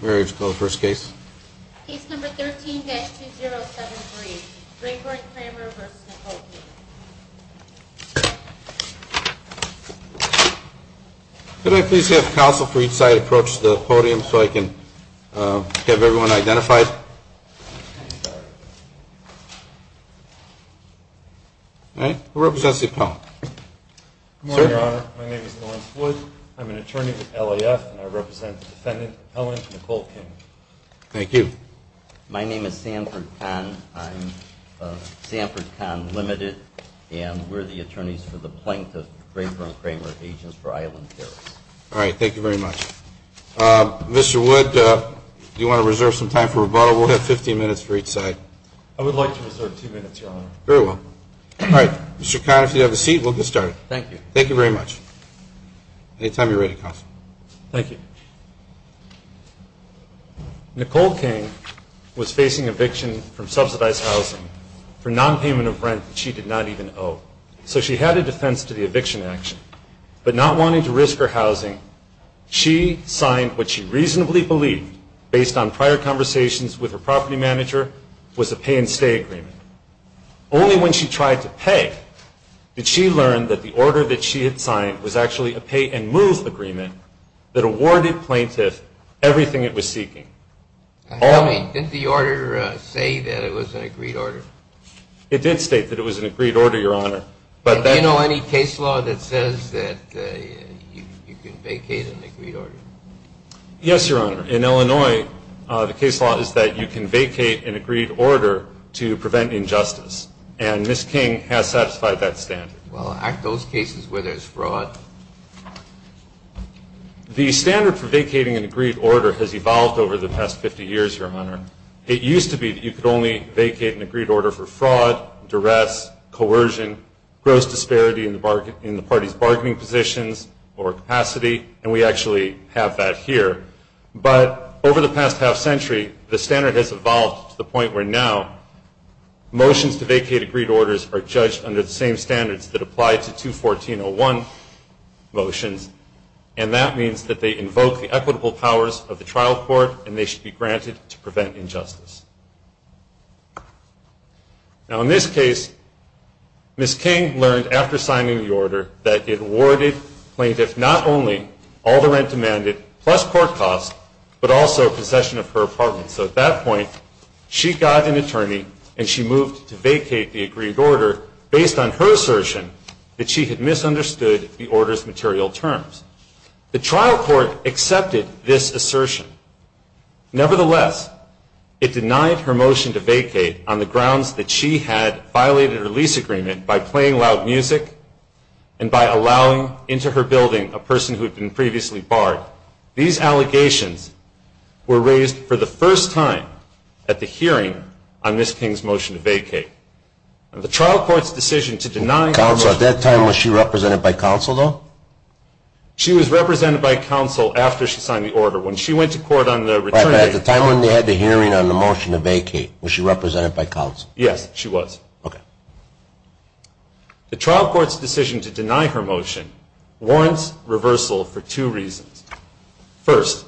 Where would you like to go first case? Case number 13-2073, Raper & Kramer v. Napoleon. Could I please have counsel for each side approach the podium so I can have everyone identified? All right. Who represents the appellant? Good morning, Your Honor. My name is Samford Kahn. I'm an attorney with LAF, and I represent the defendant, Appellant Nicole King. Thank you. My name is Samford Kahn. I'm of Samford Kahn Limited, and we're the attorneys for the plaintiff, Raper & Kramer, Agents for Island Care. All right. Thank you very much. Mr. Wood, do you want to reserve some time for rebuttal? We'll have 15 minutes for each side. I would like to reserve 2 minutes, Your Honor. Very well. All right. Mr. Kahn, if you have a seat, we'll get started. Thank you. Thank you very much. Anytime you're ready, counsel. Thank you. Nicole King was facing eviction from subsidized housing for nonpayment of rent that she did not even owe. So she had a defense to the eviction action, but not wanting to risk her housing, she signed what she reasonably believed, based on prior conversations with her property manager, was a pay and stay agreement. Only when she tried to pay did she learn that the order that she had signed was actually a pay and move agreement that awarded plaintiff everything it was seeking. Didn't the order say that it was an agreed order? It did state that it was an agreed order, Your Honor. But do you know any case law that says that you can vacate an agreed order? Yes, Your Honor. In Illinois, the case law is that you can vacate an agreed order to prevent injustice. And Ms. King has satisfied that standard. Well, aren't those cases where there's fraud? The standard for vacating an agreed order has evolved over the past 50 years, Your Honor. It used to be that you could only vacate an agreed order for fraud, duress, coercion, gross disparity in the party's bargaining positions or capacity, and we actually have that here. But over the past half century, the standard has evolved to the point where now motions to vacate agreed orders are judged under the same standards that apply to 214.01 motions, and that means that they invoke the equitable powers of the trial court and they should be granted to prevent injustice. Now, in this case, Ms. King learned after signing the order that it awarded plaintiff not only all the rent demanded plus court costs, but also possession of her apartment. So at that point, she got an attorney and she moved to vacate the agreed order based on her assertion that she had misunderstood the order's material terms. The trial court accepted this assertion. Nevertheless, it denied her motion to vacate on the grounds that she had violated her lease agreement by playing loud music and by allowing into her building a person who had been previously barred. These allegations were raised for the first time at the hearing on Ms. King's motion to vacate. The trial court's decision to deny her motion to vacate... Counsel, at that time, was she represented by counsel, though? She was represented by counsel after she signed the order. When she went to court on the return of the... At the time when they had the hearing on the motion to vacate, was she represented by counsel? Yes, she was. Okay. The trial court's decision to deny her motion warrants reversal for two reasons. First,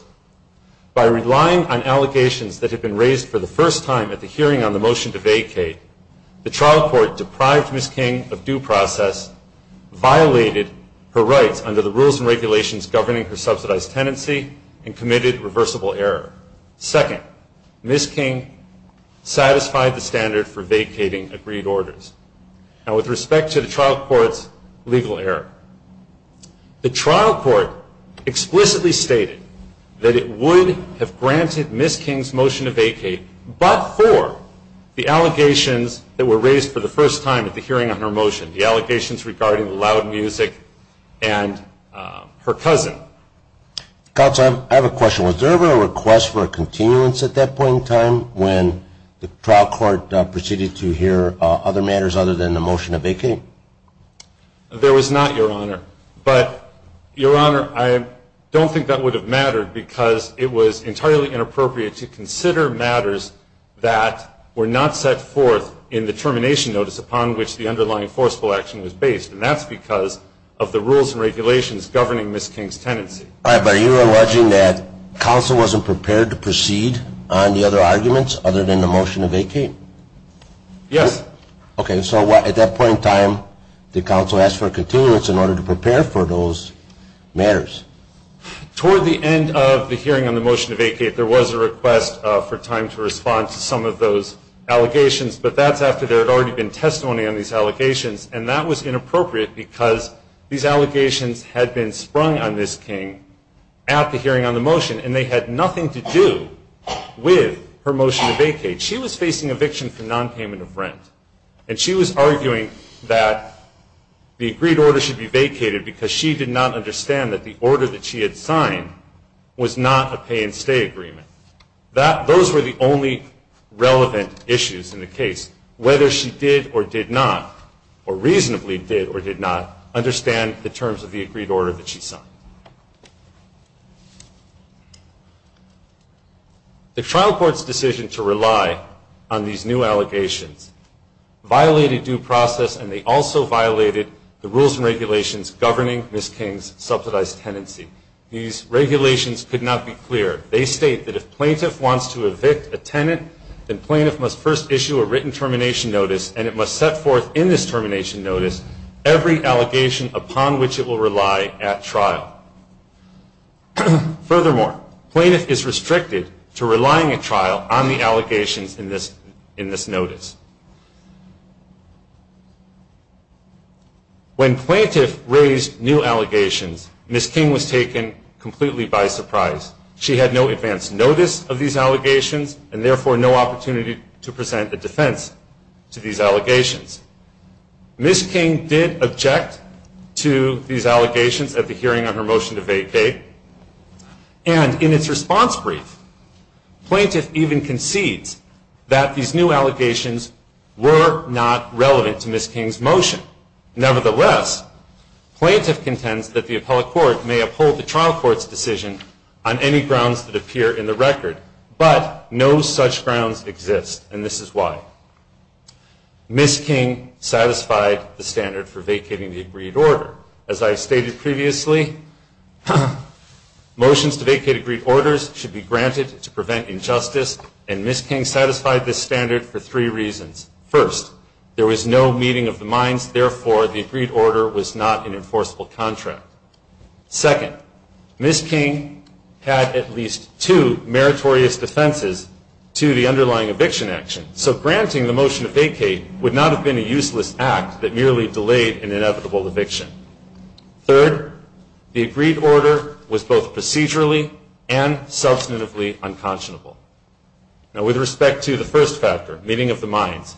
by relying on allegations that had been raised for the first time at the hearing on the motion to vacate, the trial court deprived Ms. King of due process, violated her rights under the rules and regulations governing her subsidized tenancy, and committed reversible error. Second, Ms. King satisfied the standard for vacating agreed orders. Now, with respect to the trial court's legal error, the trial court explicitly stated that it would have granted Ms. King's motion to vacate, but for the allegations that were raised for the first time at the hearing on her motion, the allegations regarding the loud music and her cousin. Counsel, I have a question. Was there ever a request for a continuance at that point in time when the trial court proceeded to hear other matters other than the motion to vacate? There was not, Your Honor. But, Your Honor, I don't think that would have mattered because it was entirely inappropriate to consider matters that were not set forth in the termination notice upon which the underlying enforceable action was based, and that's because of the rules and regulations governing Ms. King's tenancy. All right, but are you alleging that counsel wasn't prepared to proceed on the other arguments other than the motion to vacate? Yes. Okay, so at that point in time, did counsel ask for a continuance in order to prepare for those matters? Toward the end of the hearing on the motion to vacate, there was a request for time to respond to some of those allegations, but that's after there had already been testimony on these allegations, and that was inappropriate because these allegations had been sprung on Ms. King at the hearing on the motion, and they had nothing to do with her motion to vacate. She was facing eviction for nonpayment of rent, and she was arguing that the agreed order should be vacated because she did not understand that the order that she had signed was not a pay and stay agreement. Those were the only relevant issues in the case. Whether she did or did not, or reasonably did or did not, understand the terms of the agreed order that she signed. The trial court's decision to rely on these new allegations violated due process, and they also violated the rules and regulations governing Ms. King's subsidized tenancy. These regulations could not be cleared. They state that if plaintiff wants to evict a tenant, then plaintiff must first issue a written termination notice, and it must set forth in this termination notice every allegation upon which it will rely at trial. Furthermore, plaintiff is restricted to relying at trial on the allegations in this notice. When plaintiff raised new allegations, Ms. King was taken completely by surprise. She had no advance notice of these allegations, and therefore no opportunity to present a defense to these allegations. Ms. King did object to these allegations at the hearing on her motion to vacate, and in its response brief, plaintiff even concedes that these new allegations were not relevant to Ms. King's motion. Nevertheless, plaintiff contends that the appellate court may uphold the trial court's decision on any grounds that appear in the record, but no such grounds exist, and this is why. Ms. King satisfied the standard for vacating the agreed order. As I stated previously, motions to vacate agreed orders should be granted to prevent injustice, and Ms. King satisfied this standard for three reasons. First, there was no meeting of the minds, therefore the agreed order was not an enforceable contract. Second, Ms. King had at least two meritorious defenses to the underlying eviction action, so granting the motion to vacate would not have been a useless act that merely delayed an inevitable eviction. Third, the agreed order was both procedurally and substantively unconscionable. Now, with respect to the first factor, meeting of the minds,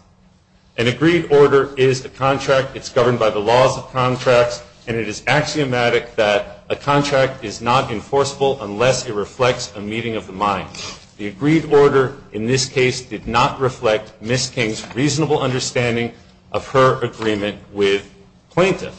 an agreed order is a contract, it's governed by the laws of contracts, and it is axiomatic that a contract is not enforceable unless it reflects a meeting of the minds. The agreed order in this case did not reflect Ms. King's reasonable understanding of her agreement with plaintiff.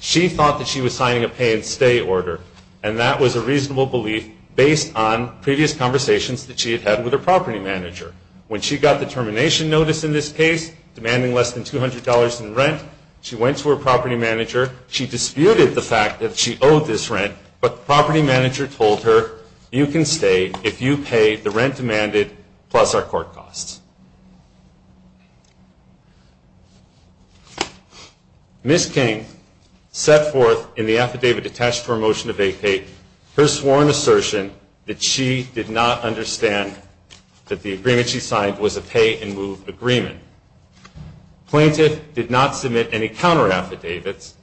She thought that she was signing a pay and stay order, and that was a reasonable belief based on previous conversations that she had had with her property manager. When she got the termination notice in this case, demanding less than $200 in rent, she went to her property manager, she disputed the fact that she owed this rent, but the property manager told her, you can stay if you pay the rent demanded plus our court costs. Ms. King set forth in the affidavit attached to her motion to vacate her sworn assertion that she did not understand that the agreement she signed was a pay and move agreement. Plaintiff did not submit any counter affidavits.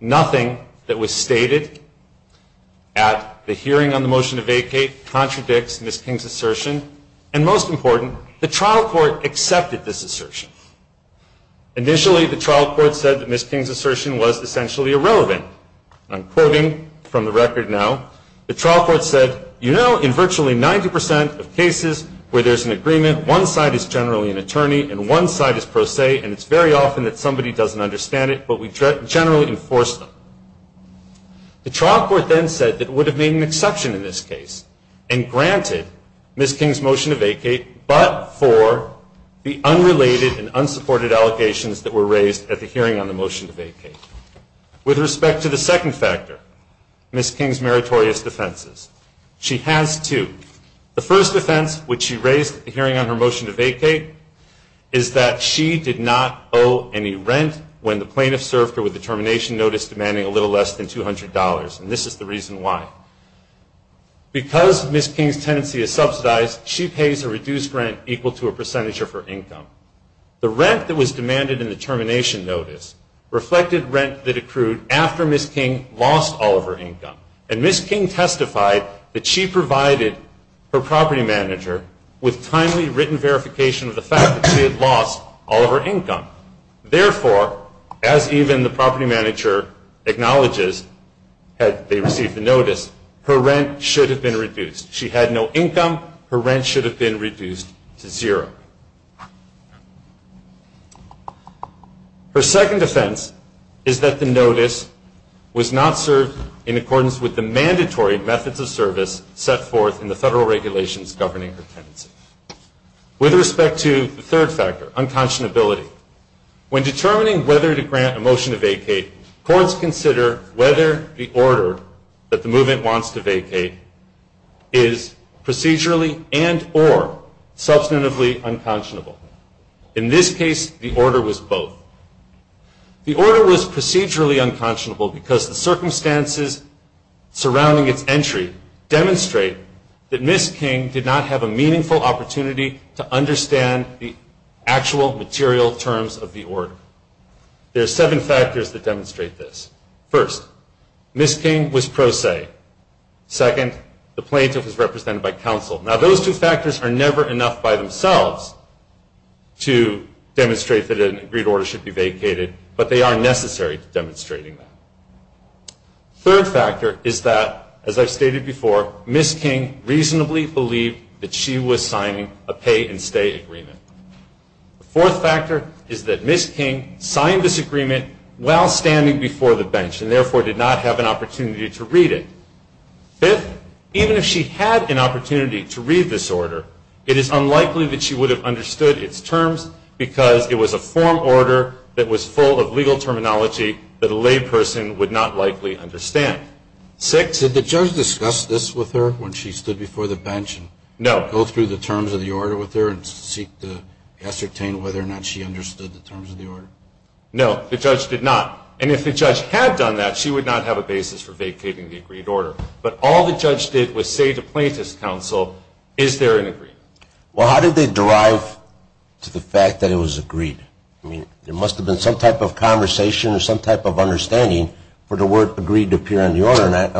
Nothing that was stated at the hearing on the motion to vacate contradicts Ms. King's assertion, and most important, the trial court accepted this assertion. Initially, the trial court said that Ms. King's assertion was essentially irrelevant. I'm quoting from the record now. The trial court said, you know, in virtually 90% of cases where there's an agreement, one side is generally an attorney and one side is pro se, and it's very often that somebody doesn't understand it, but we generally enforce them. The trial court then said that it would have made an exception in this case and granted Ms. King's motion to vacate, but for the unrelated and unsupported allegations that were raised at the hearing on the motion to vacate. With respect to the second factor, Ms. King's meritorious defenses, she has two. The first offense, which she raised at the hearing on her motion to vacate, is that she did not owe any rent when the plaintiff served her with the termination notice demanding a little less than $200, and this is the reason why. Because Ms. King's tenancy is subsidized, she pays a reduced rent equal to a percentage of her income. The rent that was demanded in the termination notice reflected rent that accrued after Ms. King lost all of her income, and Ms. King testified that she provided her property manager with timely written verification of the fact that she had lost all of her income. As even the property manager acknowledges, had they received the notice, her rent should have been reduced. She had no income. Her rent should have been reduced to zero. Her second offense is that the notice was not served in accordance with the mandatory methods of service set forth in the federal regulations governing her tenancy. With respect to the third factor, unconscionability, when determining whether to grant a motion to vacate, courts consider whether the order that the movement wants to vacate is procedurally and or substantively unconscionable. In this case, the order was both. The order was procedurally unconscionable because the circumstances surrounding its entry demonstrate that Ms. King did not have a meaningful opportunity to demonstrate that an agreed order should be vacated, but they are necessary to demonstrating that. The third factor is that, as I've stated before, Ms. King reasonably believed that she was signing a pay and stay agreement. The fourth factor is that Ms. King signed this agreement while standing before the bench and therefore did not have an opportunity to read it. Fifth, even if she had an opportunity to read this order, it is unlikely that she would have understood its terms because it was a form order that was full of legal terminology that a layperson would not likely understand. Sixth, did the judge determine whether or not she understood the terms of the order? No, the judge did not. And if the judge had done that, she would not have a basis for vacating the agreed order. But all the judge did was say to plaintiff's counsel, is there an agreement? Well, how did they derive to the fact that it was agreed? I mean, there must have been some type of conversation or some type of understanding for the court of the agreed order that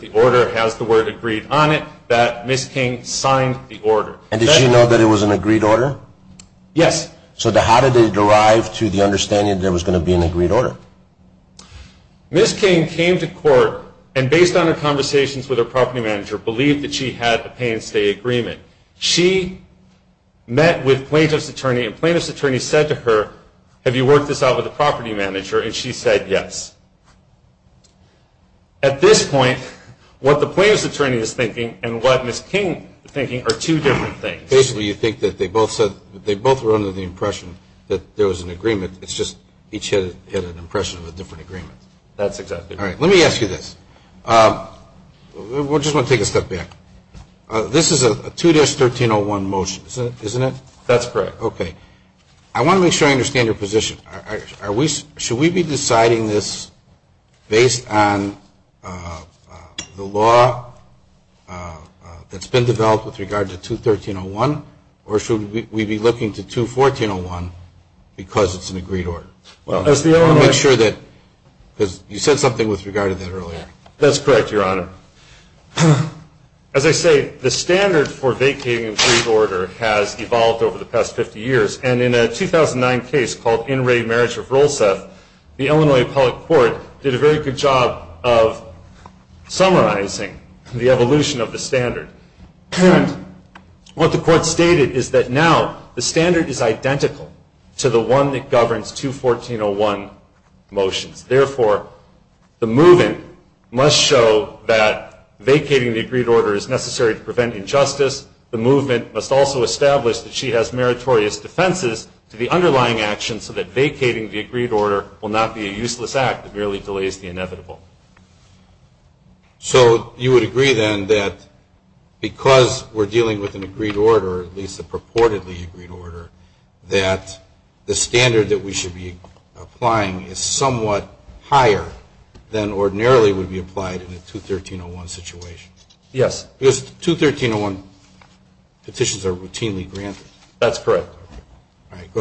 the order has the word agreed on it, that Ms. King signed the order. And did she know that it was an agreed order? Yes. So how did they derive to the understanding that it was going to be an agreed order? Ms. King came to court and based on her conversations with her property manager believed that she had a pay and stay agreement. She met with plaintiff's attorney and the attorney said to her, have you worked this out with the property manager? And she said yes. At this point, what the plaintiff's attorney is thinking and what Ms. King is thinking are two different things. Basically, you think that they both were under the impression that there was an agreement. It's just each had an impression of a different agreement. That's exactly right. All right. Let me ask you this. We just want to take a step back. This is a 2-1301 motion, isn't it? That's correct. Okay. I want to make sure I understand your position. Should we be deciding this based on the law that's been developed with regard to 213-01 or should we be looking to 214-01 because it's an agreed order? Well, as the owner... I want to make sure that, because you said something with regard to that earlier. That's correct, Your Honor. As I say, the standard for vacating an agreed order has evolved over the past 50 years. And in a 2009 case called In Re Marriage of Rolseth, the Illinois Appellate Court did a very good job of summarizing the evolution of the standard. And what the court stated is that now the standard is identical to the one that governs 214-01 motions. Therefore, the movement must show that vacating the agreed order is necessary to prevent injustice. The movement must also establish that she has meritorious defenses to the underlying actions so that vacating the agreed order will not be a useless act that merely delays the inevitable. So you would agree then that because we're dealing with an agreed order, at least a purportedly agreed order, that the standard that we should be applying is somewhat higher than ordinarily would be applied in a 213-01 situation? Yes. Because 213-01 petitions are routinely granted? That's correct. All right. Go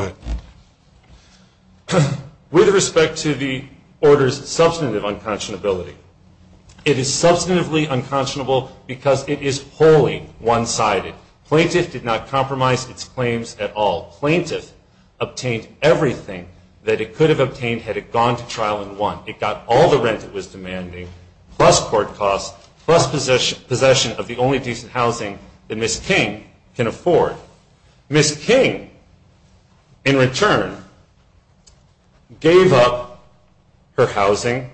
ahead. With respect to the order's substantive unconscionability, it is substantively unconscionable because it is wholly one-sided. Plaintiff did not compromise its claims at all. Plaintiff obtained everything that it could have obtained had it gone to trial and won. It got all the rent it was demanding, plus court costs, plus possession of the only decent housing that Ms. King can afford. Ms. King, in return, gave up her housing,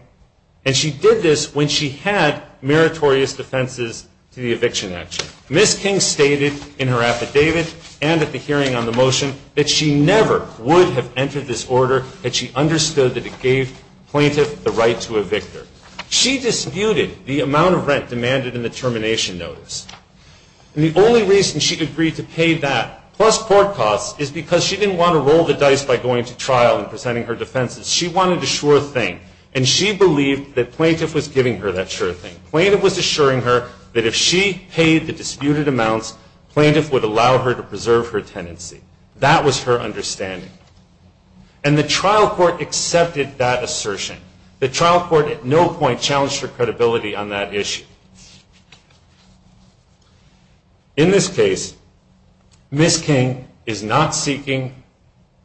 and she did this when she had meritorious defenses to the eviction action. Ms. King stated in her testimony at David and at the hearing on the motion that she never would have entered this order had she understood that it gave plaintiff the right to evict her. She disputed the amount of rent demanded in the termination notice. And the only reason she agreed to pay that, plus court costs, is because she didn't want to roll the dice by going to trial and presenting her defenses. She wanted the sure thing. And she believed that plaintiff was giving her that sure thing. Plaintiff was assuring her that if she paid the disputed amounts, plaintiff would allow her to preserve her tenancy. That was her understanding. And the trial court accepted that assertion. The trial court at no point challenged her credibility on that issue. In this case, Ms. King is not seeking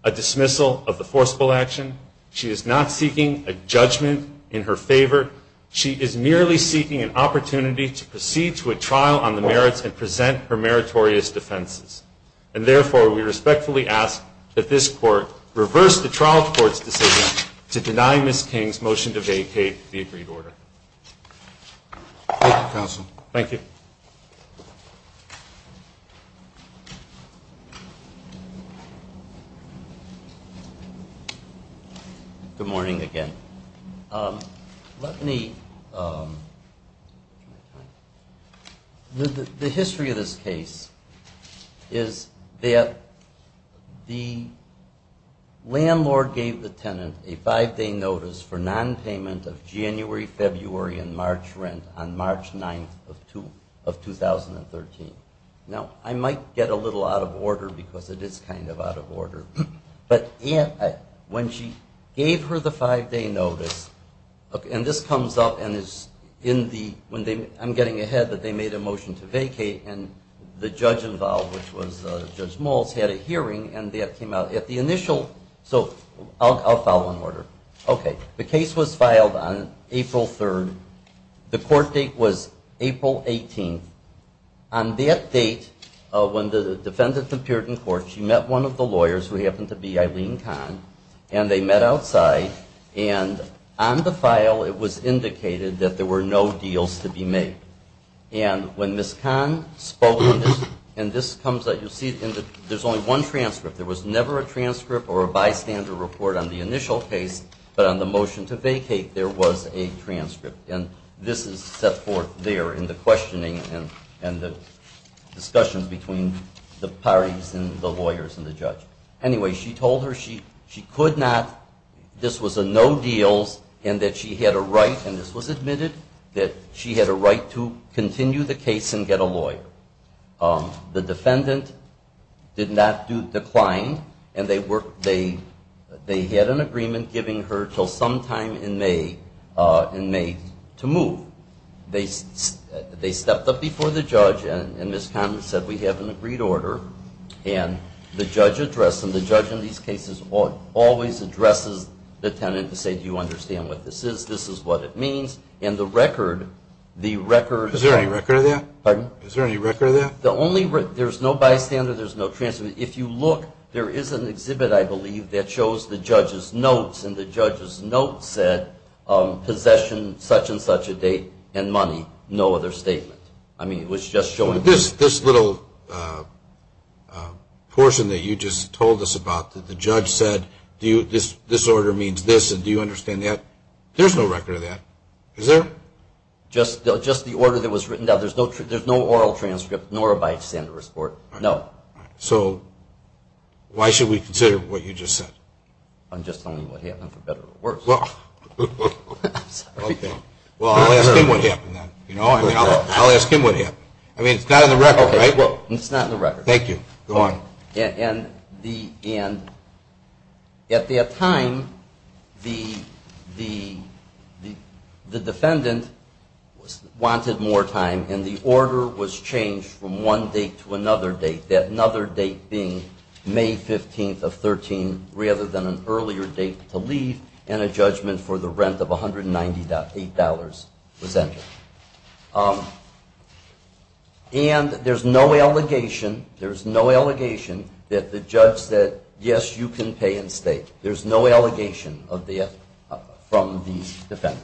a dismissal of the forcible action. She is not seeking a judgment in her favor. She is merely seeking an opportunity to proceed to a trial on the merits and present her meritorious defenses. And, therefore, we respectfully ask that this court reverse the trial court's decision to deny Ms. King's motion to vacate the agreed order. Thank you. Good morning again. The history of this case is that the landlord gave the tenant a five-day notice for nonpayment of January, February, and March rent on March 9th of 2013. Now, I might get a little out of order because it is kind of odd. When she gave her the five-day notice, and this comes up and is in the when they, I'm getting ahead that they made a motion to vacate and the judge involved, which was Judge Maltz, had a hearing and that came out. At the initial, so I'll follow in order. Okay. The case was filed on April 3rd. The court date was April 18th. On that date, when the defendant appeared in court, she met one of the lawyers, who happened to be Eileen Kahn, and they met outside. And on the file, it was indicated that there were no deals to be made. And when Ms. Kahn spoke, and this comes up, you'll see there's only one transcript. There was never a transcript or a bystander report on the initial case, but on the motion to vacate, there was a transcript. And this is set forth there in the Anyway, she told her she could not, this was a no deals, and that she had a right, and this was admitted, that she had a right to continue the case and get a lawyer. The defendant did not decline, and they had an agreement giving her until sometime in May to move. They stepped up before the judge, and Ms. Kahn, the judge addressed, and the judge in these cases always addresses the tenant to say, do you understand what this is? This is what it means. And the record, the record Is there any record of that? Pardon? Is there any record of that? The only record, there's no bystander, there's no transcript. If you look, there is an exhibit, I believe, that shows the judge's notes, and the judge's notes said, possession such and such a date, and money. No other about, that the judge said, this order means this, and do you understand that? There's no record of that. Is there? Just the order that was written down. There's no oral transcript, nor a bystander report. No. So, why should we consider what you just said? I'm just telling you what happened, for better or worse. Well, I'll ask him what happened then. I'll ask him what happened. I mean, it's not in the record, right? It's not in the record. Thank you. Go on. And at that time, the defendant wanted more time, and the order was changed from one date to another date, that another date being May 15th of 13, rather than an earlier date to leave, and a judgment for the rent of $198 was entered. And there's no allegation, there's no allegation that the judge said, yes, you can pay in state. There's no allegation of that from the defendant.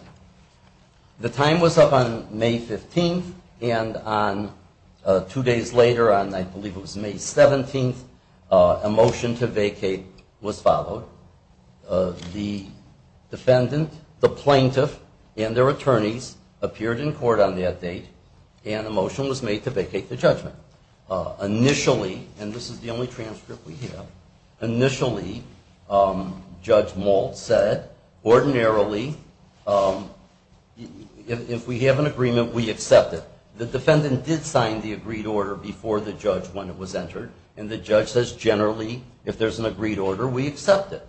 The time was up on May 15th, and on two days later on, I believe it was May 17th, a motion to vacate was followed. The defendant, the attorneys, appeared in court on that date, and a motion was made to vacate the judgment. Initially, and this is the only transcript we have, initially Judge Maltz said, ordinarily, if we have an agreement, we accept it. The defendant did sign the agreed order before the judge when it was entered, and the judge says, generally, if there's an agreed order, we accept it.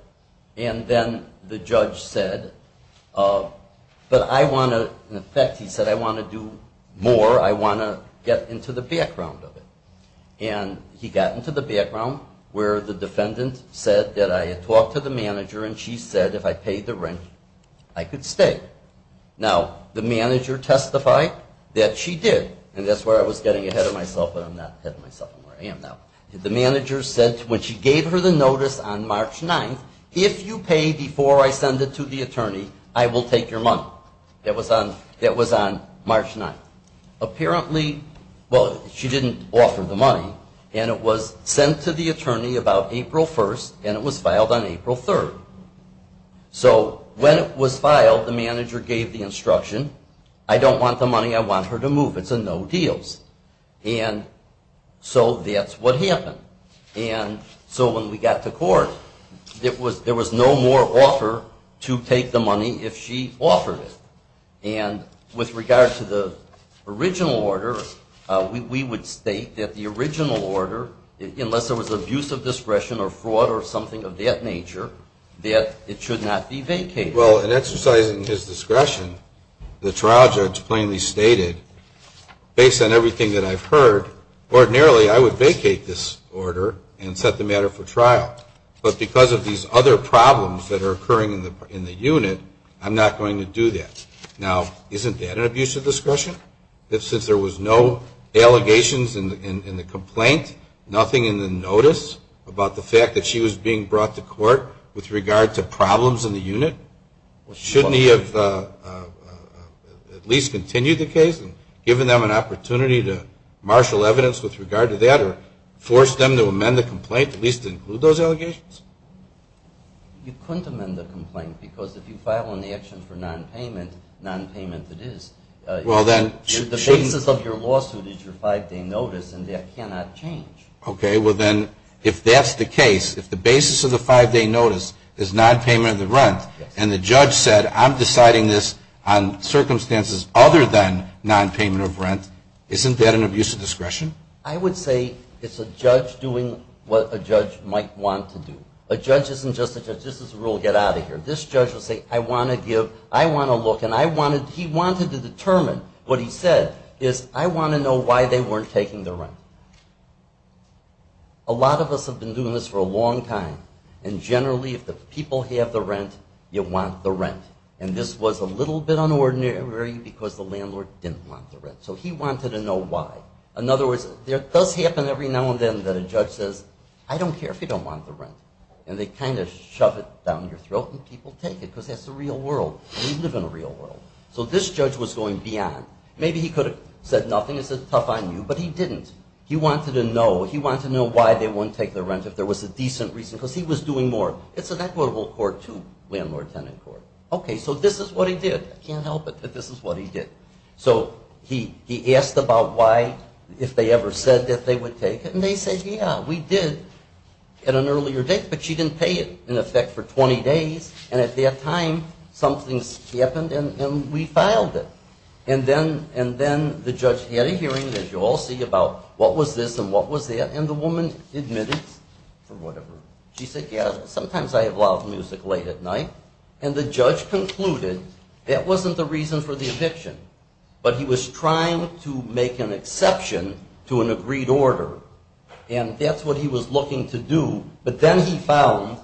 And then the judge said, but I want to, in fact, he said, I want to do more, I want to get into the background of it. And he got into the background where the defendant said that I had talked to the manager and she said if I paid the rent, I could stay. Now, the manager testified that she did, and that's where I was getting ahead of myself, but I'm not ahead of myself anymore, I am now. The manager said when she gave her the notice on March 9th, if you pay before I send it to the attorney, I will take your money. That was on March 9th. Apparently, well, she didn't offer the money, and it was sent to the attorney about April 1st, and it was filed on April 3rd. So when it was filed, the manager gave the instruction, I don't want the money, I want her to move, it's what happened. And so when we got to court, there was no more offer to take the money if she offered it. And with regard to the original order, we would state that the original order, unless there was abuse of discretion or fraud or something of that nature, that it should not be vacated. Well, in exercising his discretion, the trial judge plainly stated, based on everything that I've heard, ordinarily I would vacate this order and set the matter for trial. But because of these other problems that are occurring in the unit, I'm not going to do that. Now, isn't that an abuse of discretion? Since there was no allegations in the complaint, nothing in the notice about the fact that she was being brought to court with regard to problems in the unit, shouldn't he have at least continued the case and given them an opportunity to marshal evidence with regard to that or force them to amend the complaint at least to include those allegations? You couldn't amend the complaint because if you file an action for nonpayment, nonpayment it is. The basis of your lawsuit is your five-day notice and that cannot change. Okay. Well, then, if that's the case, if the basis of the five-day notice is nonpayment of the rent and the judge said, I'm deciding this on circumstances other than nonpayment of rent, isn't that an abuse of discretion? I would say it's a judge doing what a judge might want to do. A judge isn't just a judge. This is a rule, get out of here. This judge will say, I want to give, I want to look and I wanted, he wanted to determine what he said is I want to know why they weren't taking the rent. A lot of us have been doing this for a long time and generally if the people have the rent, you want the rent. And this was a little bit unordinary because the landlord didn't want the rent. So he wanted to know why. In other words, it does happen every now and then that a judge says, I don't care if you don't want the rent. And they kind of shove it down your throat and people take it because that's the real world. We live in a real world. So this judge was going beyond. Maybe he could have said nothing and said tough on you, but he didn't. He wanted to know, he wanted to know why they wouldn't take the rent if there was a decent reason because he was doing more. It's an equitable court too, landlord-tenant court. Okay, so this is what he did. I can't help it, but this is what he did. So he asked about why, if they ever said that they would take it. And they said, yeah, we did at an earlier date, but she didn't pay it in effect for 20 days. And at that time, something's happened and we filed it. And then the judge had a hearing, as you all see, about what was this and what was that. And the woman admitted she said, yeah, sometimes I have loud music late at night. And the judge concluded that wasn't the reason for the eviction. But he was trying to make an exception to an agreed order. And that's what he was looking to do. But then he found,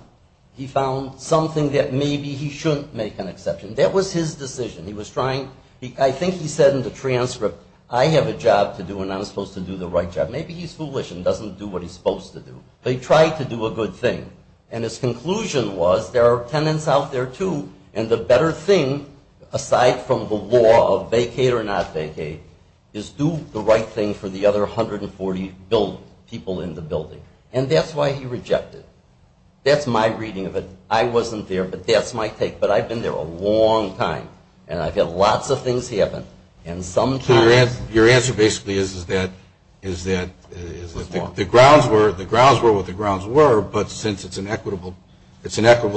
he found something that maybe he shouldn't make an exception. That was his decision. He was trying, I think he said in the transcript, I have a job to do and I'm supposed to do the right job. Maybe he's foolish and doesn't do what he's supposed to do. But he tried to do a good thing. And his conclusion was there are tenants out there, too, and the better thing, aside from the law of vacate or not vacate, is do the right thing for the other 140 people in the building. And that's why he rejected it. That's my reading of it. I wasn't there, but that's my take. But I've been there a long time. And I've had lots of things happen. And sometimes Your answer basically is that the grounds were what the grounds were, but since it's an equitable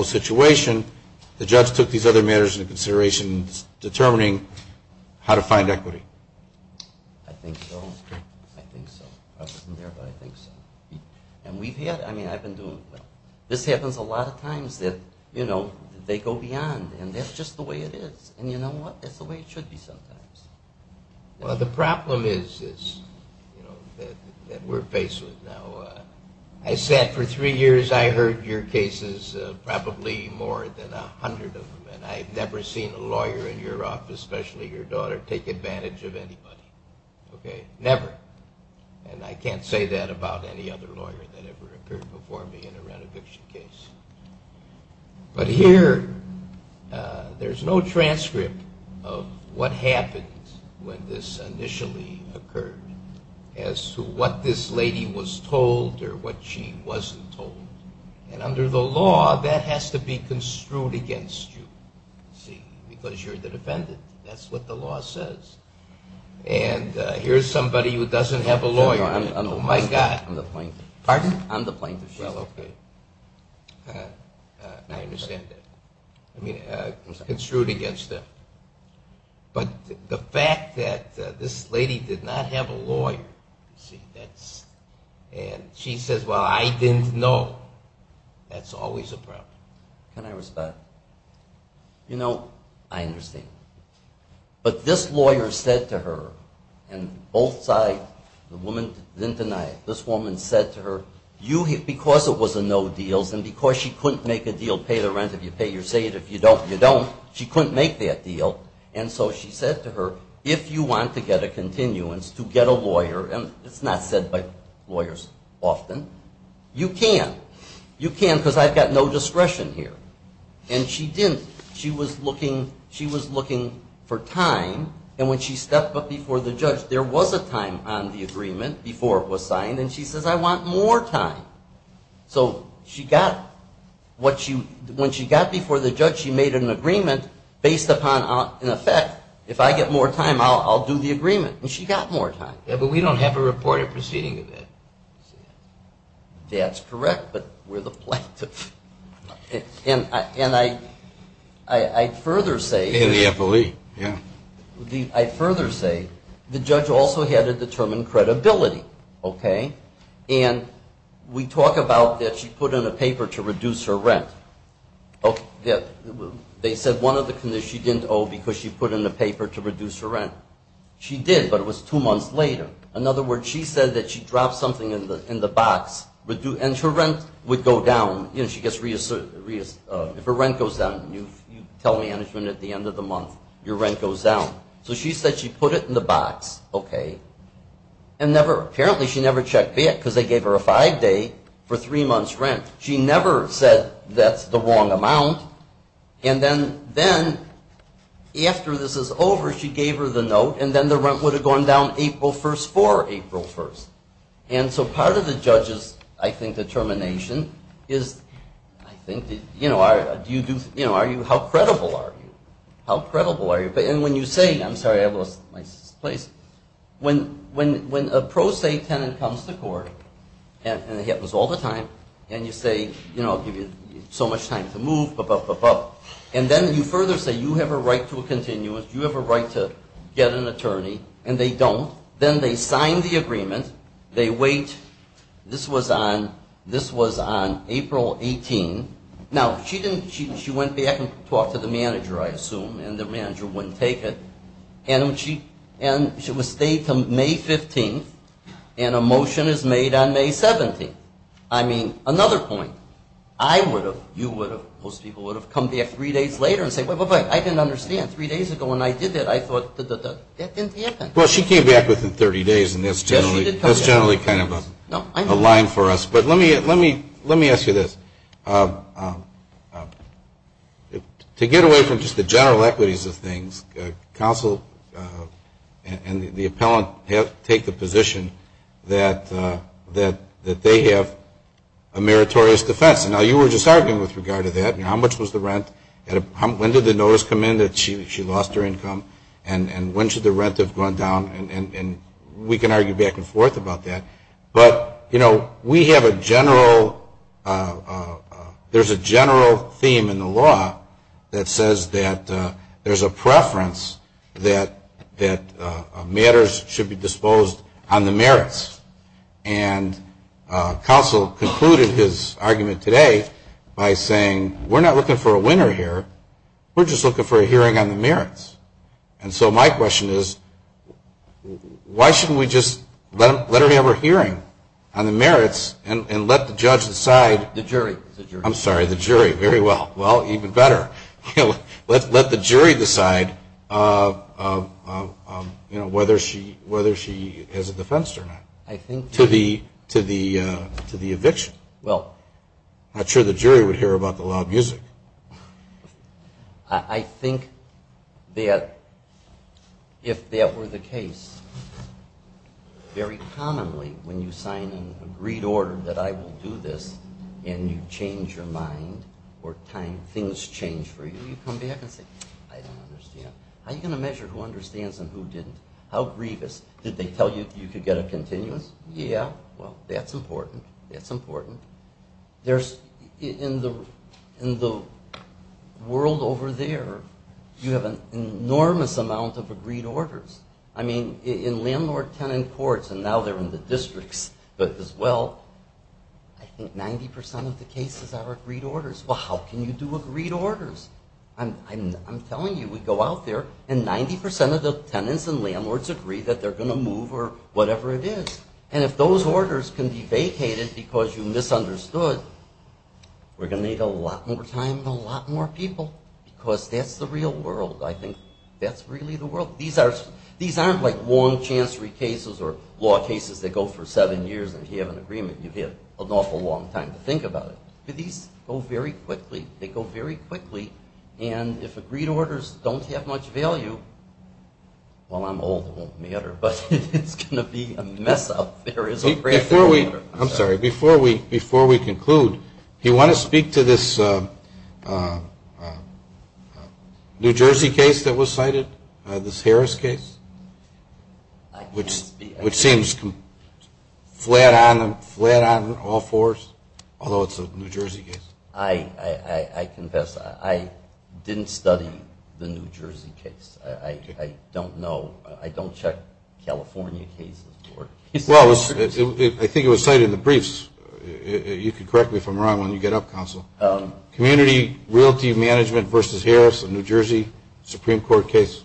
situation, the judge took these other matters into consideration in determining how to find equity. I think so. I've been there, but I think so. And we've had, I mean, I've been doing well. This happens a lot of times that, you know, they go beyond. And that's just the way it is. And you know what? That's the way it should be sometimes. Well, the problem is, you know, that we're faced with now. I said for three years I heard your cases, probably more than a hundred of them. And I've never seen a lawyer in your office, especially your daughter, take advantage of anybody. Okay? Never. And I can't say that about any other lawyer that ever occurred before me in a rent eviction case. But here, there's no transcript of what happened when this initially occurred as to what this lady was told or what she wasn't told. And under the law, that has to be construed against you. See? Because you're the defendant. That's what the law says. And here's somebody who doesn't have a lawyer. Oh, my God. I mean, it's construed against them. But the fact that this lady did not have a lawyer, you see, and she says, well, I didn't know, that's always a problem. Can I respond? You know, I understand. But this lawyer said to her, and both sides, the woman didn't deny it, this woman said to her, because it was a no deals and because she couldn't make a deal, pay the rent if you pay or say it, if you don't, you don't. She couldn't make that deal. And so she said to her, if you want to get a continuance to get a lawyer, and it's not said by lawyers often, you can. You can because I've got no discretion here. And she didn't. She was looking for time. And when she stepped up before the judge, there was a time on the agreement before it was signed. And then she says, I want more time. So she got what she, when she got before the judge, she made an agreement based upon, in effect, if I get more time, I'll do the agreement. And she got more time. Yeah, but we don't have a reported proceeding of that. That's correct, but we're the plaintiff. And I further say In the FOE, yeah. I further say the judge also had to determine credibility, okay? And we talk about that she put in a paper to reduce her rent. They said one of the conditions she didn't owe because she put in a paper to reduce her rent. She did, but it was two months later. In other words, she said that she dropped something in the box and her rent would go down. If her rent goes down, you tell management at the end of the month, your rent goes down. So she said she put it in the box, okay, and never, apparently she never checked back because they gave her a five-day for three months' rent. She never said that's the wrong amount. And then after this is over, she gave her the note and then the rent would have gone down April 1st for April 1st. And so part of the judge's, I think, determination is, I think, you know, how credible are you? How credible are you? And when you say, I'm sorry, I lost my place. When a pro se tenant comes to court, and it happens all the time, and you say, you know, I'll give you so much time to move, blah, blah, blah, blah. And then you further say you have a right to a continuance, you have a right to get an attorney, and they don't. Then they sign the agreement. They wait. This was on April 18th. Now, she went back and talked to the manager, I assume, and the manager wouldn't take it. And she was stayed until May 15th, and a motion is made on May 17th. I mean, another point. I would have, you would have, most people would have come back three days later and say, wait, wait, wait, I didn't understand. Three days ago when I did that, I thought, that didn't happen. Well, she came back within 30 days, and that's generally kind of a line for us. But let me ask you this. To get away from just the general equities of things, counsel and the appellant take the position that they have a meritorious defense. Now, you were just arguing with regard to that. How much was the rent? When did the notice come in that she lost her income? And when should the rent have gone down? And we can argue back and forth about that. But, you know, we have a general, there's a general theme in the law that says that there's a preference that matters should be disposed on the merits. And counsel concluded his argument today by saying, we're not looking for a winner here. We're just looking for a winner. And so my question is, why shouldn't we just let her have her hearing on the merits and let the judge decide? The jury. I'm sorry, the jury. Very well. Well, even better. Let the jury decide whether she has a defense or not to the eviction. Well. Not sure the jury would hear about the loud music. I think that if that were the case, very commonly when you sign an agreed order that I will do this and you change your mind or things change for you, you come back and say, I don't understand. How are you going to measure who understands and who didn't? How grievous? Did they tell you you could get a continuous? Yeah. Well, that's important. That's world over there. You have an enormous amount of agreed orders. I mean, in landlord-tenant courts, and now they're in the districts as well, I think 90% of the cases are agreed orders. Well, how can you do agreed orders? I'm telling you, we go out there and 90% of the tenants and landlords agree that they're going to move or whatever it is. And if those orders can be vacated because you misunderstood, we're going to get a lot more time and a lot more people because that's the real world. I think that's really the world. These aren't like long chancery cases or law cases that go for seven years and if you have an agreement, you've had an awful long time to think about it. These go very quickly. They go very quickly. And if agreed orders don't have much value, well, I'm old. It won't matter. But it's going to be a mess up. I'm sorry. Before we conclude, do you want to speak to this New Jersey case that was cited, this Harris case, which seems flat on all fours, although it's a New Jersey case? I confess, I didn't study the New Jersey case. I don't know. I don't check California cases. Well, I think it was cited in the briefs. You can correct me if I'm wrong when you get up, Counsel. Community Realty Management v. Harris, a New Jersey Supreme Court case,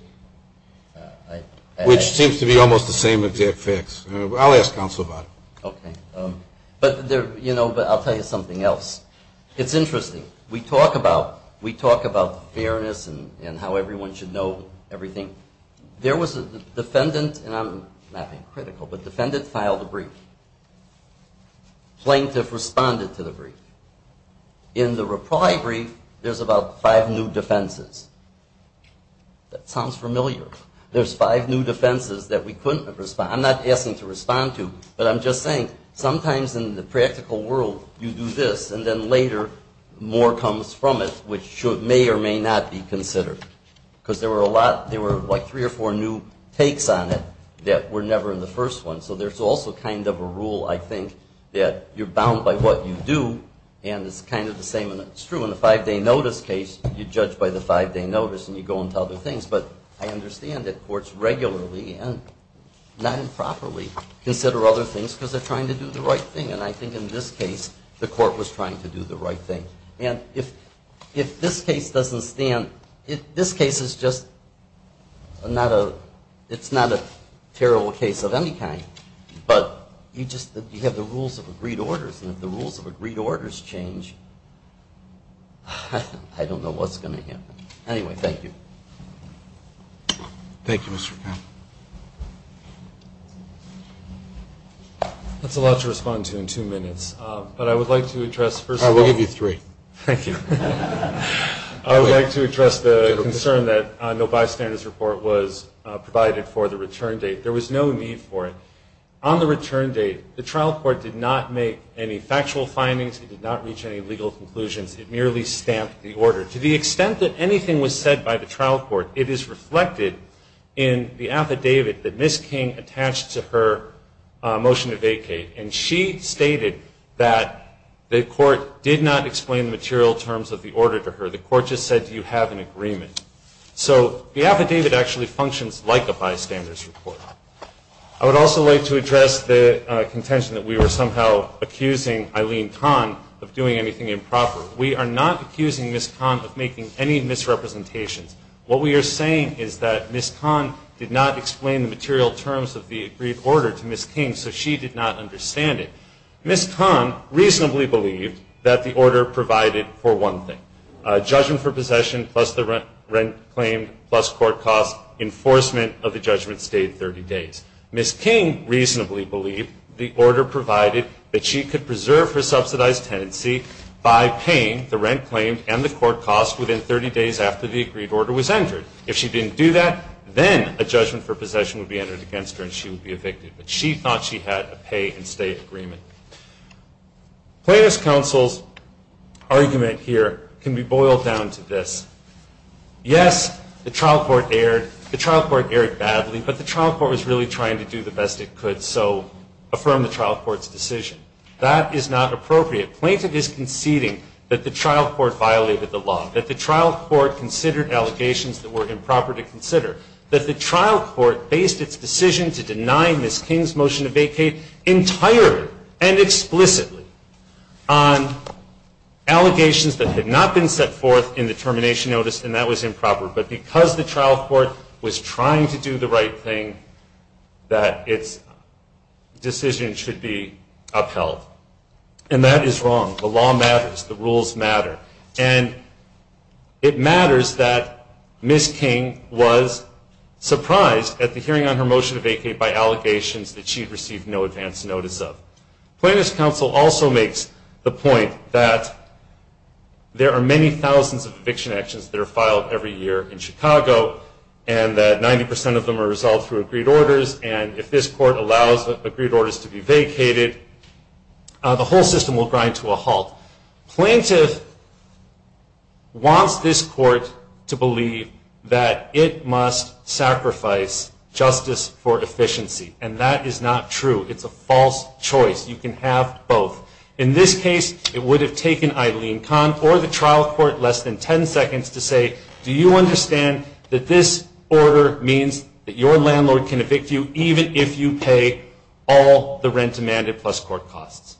which seems to be almost the same exact facts. I'll ask Counsel about it. Okay. But I'll tell you something else. It's interesting. We talk about fairness and how everyone should know everything. There was a defendant and I'm not being critical, but defendant filed a brief. Plaintiff responded to the brief. In the reply brief, there's about five new defenses. That sounds familiar. There's five new defenses that we couldn't respond. I'm not asking to respond to, but I'm just saying sometimes in the practical world you do this and then later more comes from it, which may or may not be considered. Because there were like three or four new takes on it that were never in the first one. So there's also kind of a rule, I think, that you're bound by what you do and it's kind of the same and it's true. In the five-day notice case, you're judged by the five-day notice and you go into other things. But I understand that courts regularly and not improperly consider other things because they're trying to do the right thing. And I think in this case, if this case doesn't stand, this case is just not a terrible case of any kind. But you just have the rules of agreed orders and if the rules of agreed orders change, I don't know what's going to happen. Anyway, thank you. Thank you, Mr. Kahn. That's a lot to respond to in two minutes. But I would like to address first of all I'll give you three. Thank you. I would like to address the concern that no bystanders report was provided for the return date. There was no need for it. On the return date, the trial court did not make any factual findings. It did not reach any legal conclusions. It merely stamped the order. To the extent that anything was said by the trial court, it is reflected in the affidavit that Ms. King attached to her motion to vacate. And she stated that the court did not explain the material terms of the order to her. The court just said, do you have an agreement? So the affidavit actually functions like a bystander's report. I would also like to address the contention that we were somehow accusing Eileen Kahn of doing anything improper. We are not accusing Ms. Kahn of making any misrepresentations. What we are saying is that Ms. Kahn did not explain the material terms of the agreed order to Ms. Kahn. Ms. Kahn reasonably believed that the order provided for one thing, judgment for possession plus the rent claimed plus court costs, enforcement of the judgment stayed 30 days. Ms. King reasonably believed the order provided that she could preserve her subsidized tenancy by paying the rent claimed and the court costs within 30 days after the agreed order was entered. If she didn't do that, then a judgment for possession would be Plaintiff's counsel's argument here can be boiled down to this. Yes, the trial court erred. The trial court erred badly, but the trial court was really trying to do the best it could, so affirm the trial court's decision. That is not appropriate. Plaintiff is conceding that the trial court violated the law, that the trial court considered allegations that were improper to consider, that the trial court based its decision to deny Ms. Kahn. The trial court erred, and explicitly, on allegations that had not been set forth in the termination notice, and that was improper. But because the trial court was trying to do the right thing, that its decision should be upheld. And that is wrong. The law matters. The rules matter. And it matters that Ms. King was surprised at the hearing on her motion to vacate by allegations that she had received no advance notice of. Plaintiff's counsel also makes the point that there are many thousands of eviction actions that are filed every year in Chicago, and that 90 percent of them are resolved through agreed orders, and if this court allows agreed orders to be vacated, the whole system will grind to a halt. Plaintiff wants this court to believe that it must sacrifice justice for efficiency, and that is not true. It's a false choice. You can have both. In this case, it would have taken Eileen Kahn or the trial court less than 10 seconds to say, do you understand that this order means that your landlord can evict you even if you pay all the rent demanded plus court costs?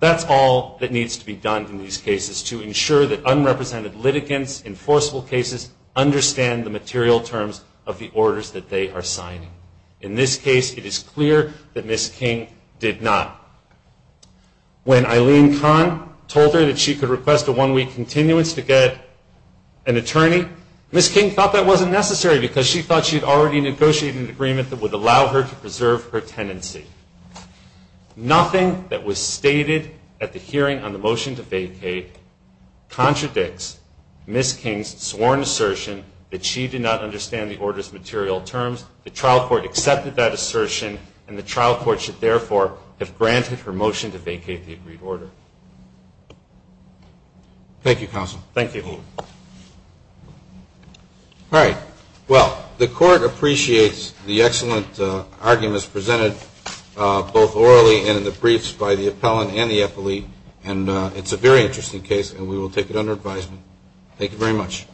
That's all that needs to be done in these cases to ensure that unrepresented litigants in forcible cases understand the material terms of the orders that they are signing. In this case, it is clear that Ms. King did not. When Eileen Kahn told her that she could request a one-week continuance to get an attorney, Ms. King thought that wasn't necessary because she thought she had already negotiated an agreement that would allow her to preserve her tenancy. Nothing that was stated at the hearing on the motion to vacate contradicts Ms. King's sworn assertion that she did not understand the order's material terms. The trial court accepted that assertion, and the trial court should therefore have granted her motion to vacate the agreed order. Thank you, counsel. Thank you. All right. Well, the court appreciates the excellent arguments presented both orally and in the briefs by the appellant and the appellee, and it's a very interesting case, and we will take it under Thank you very much.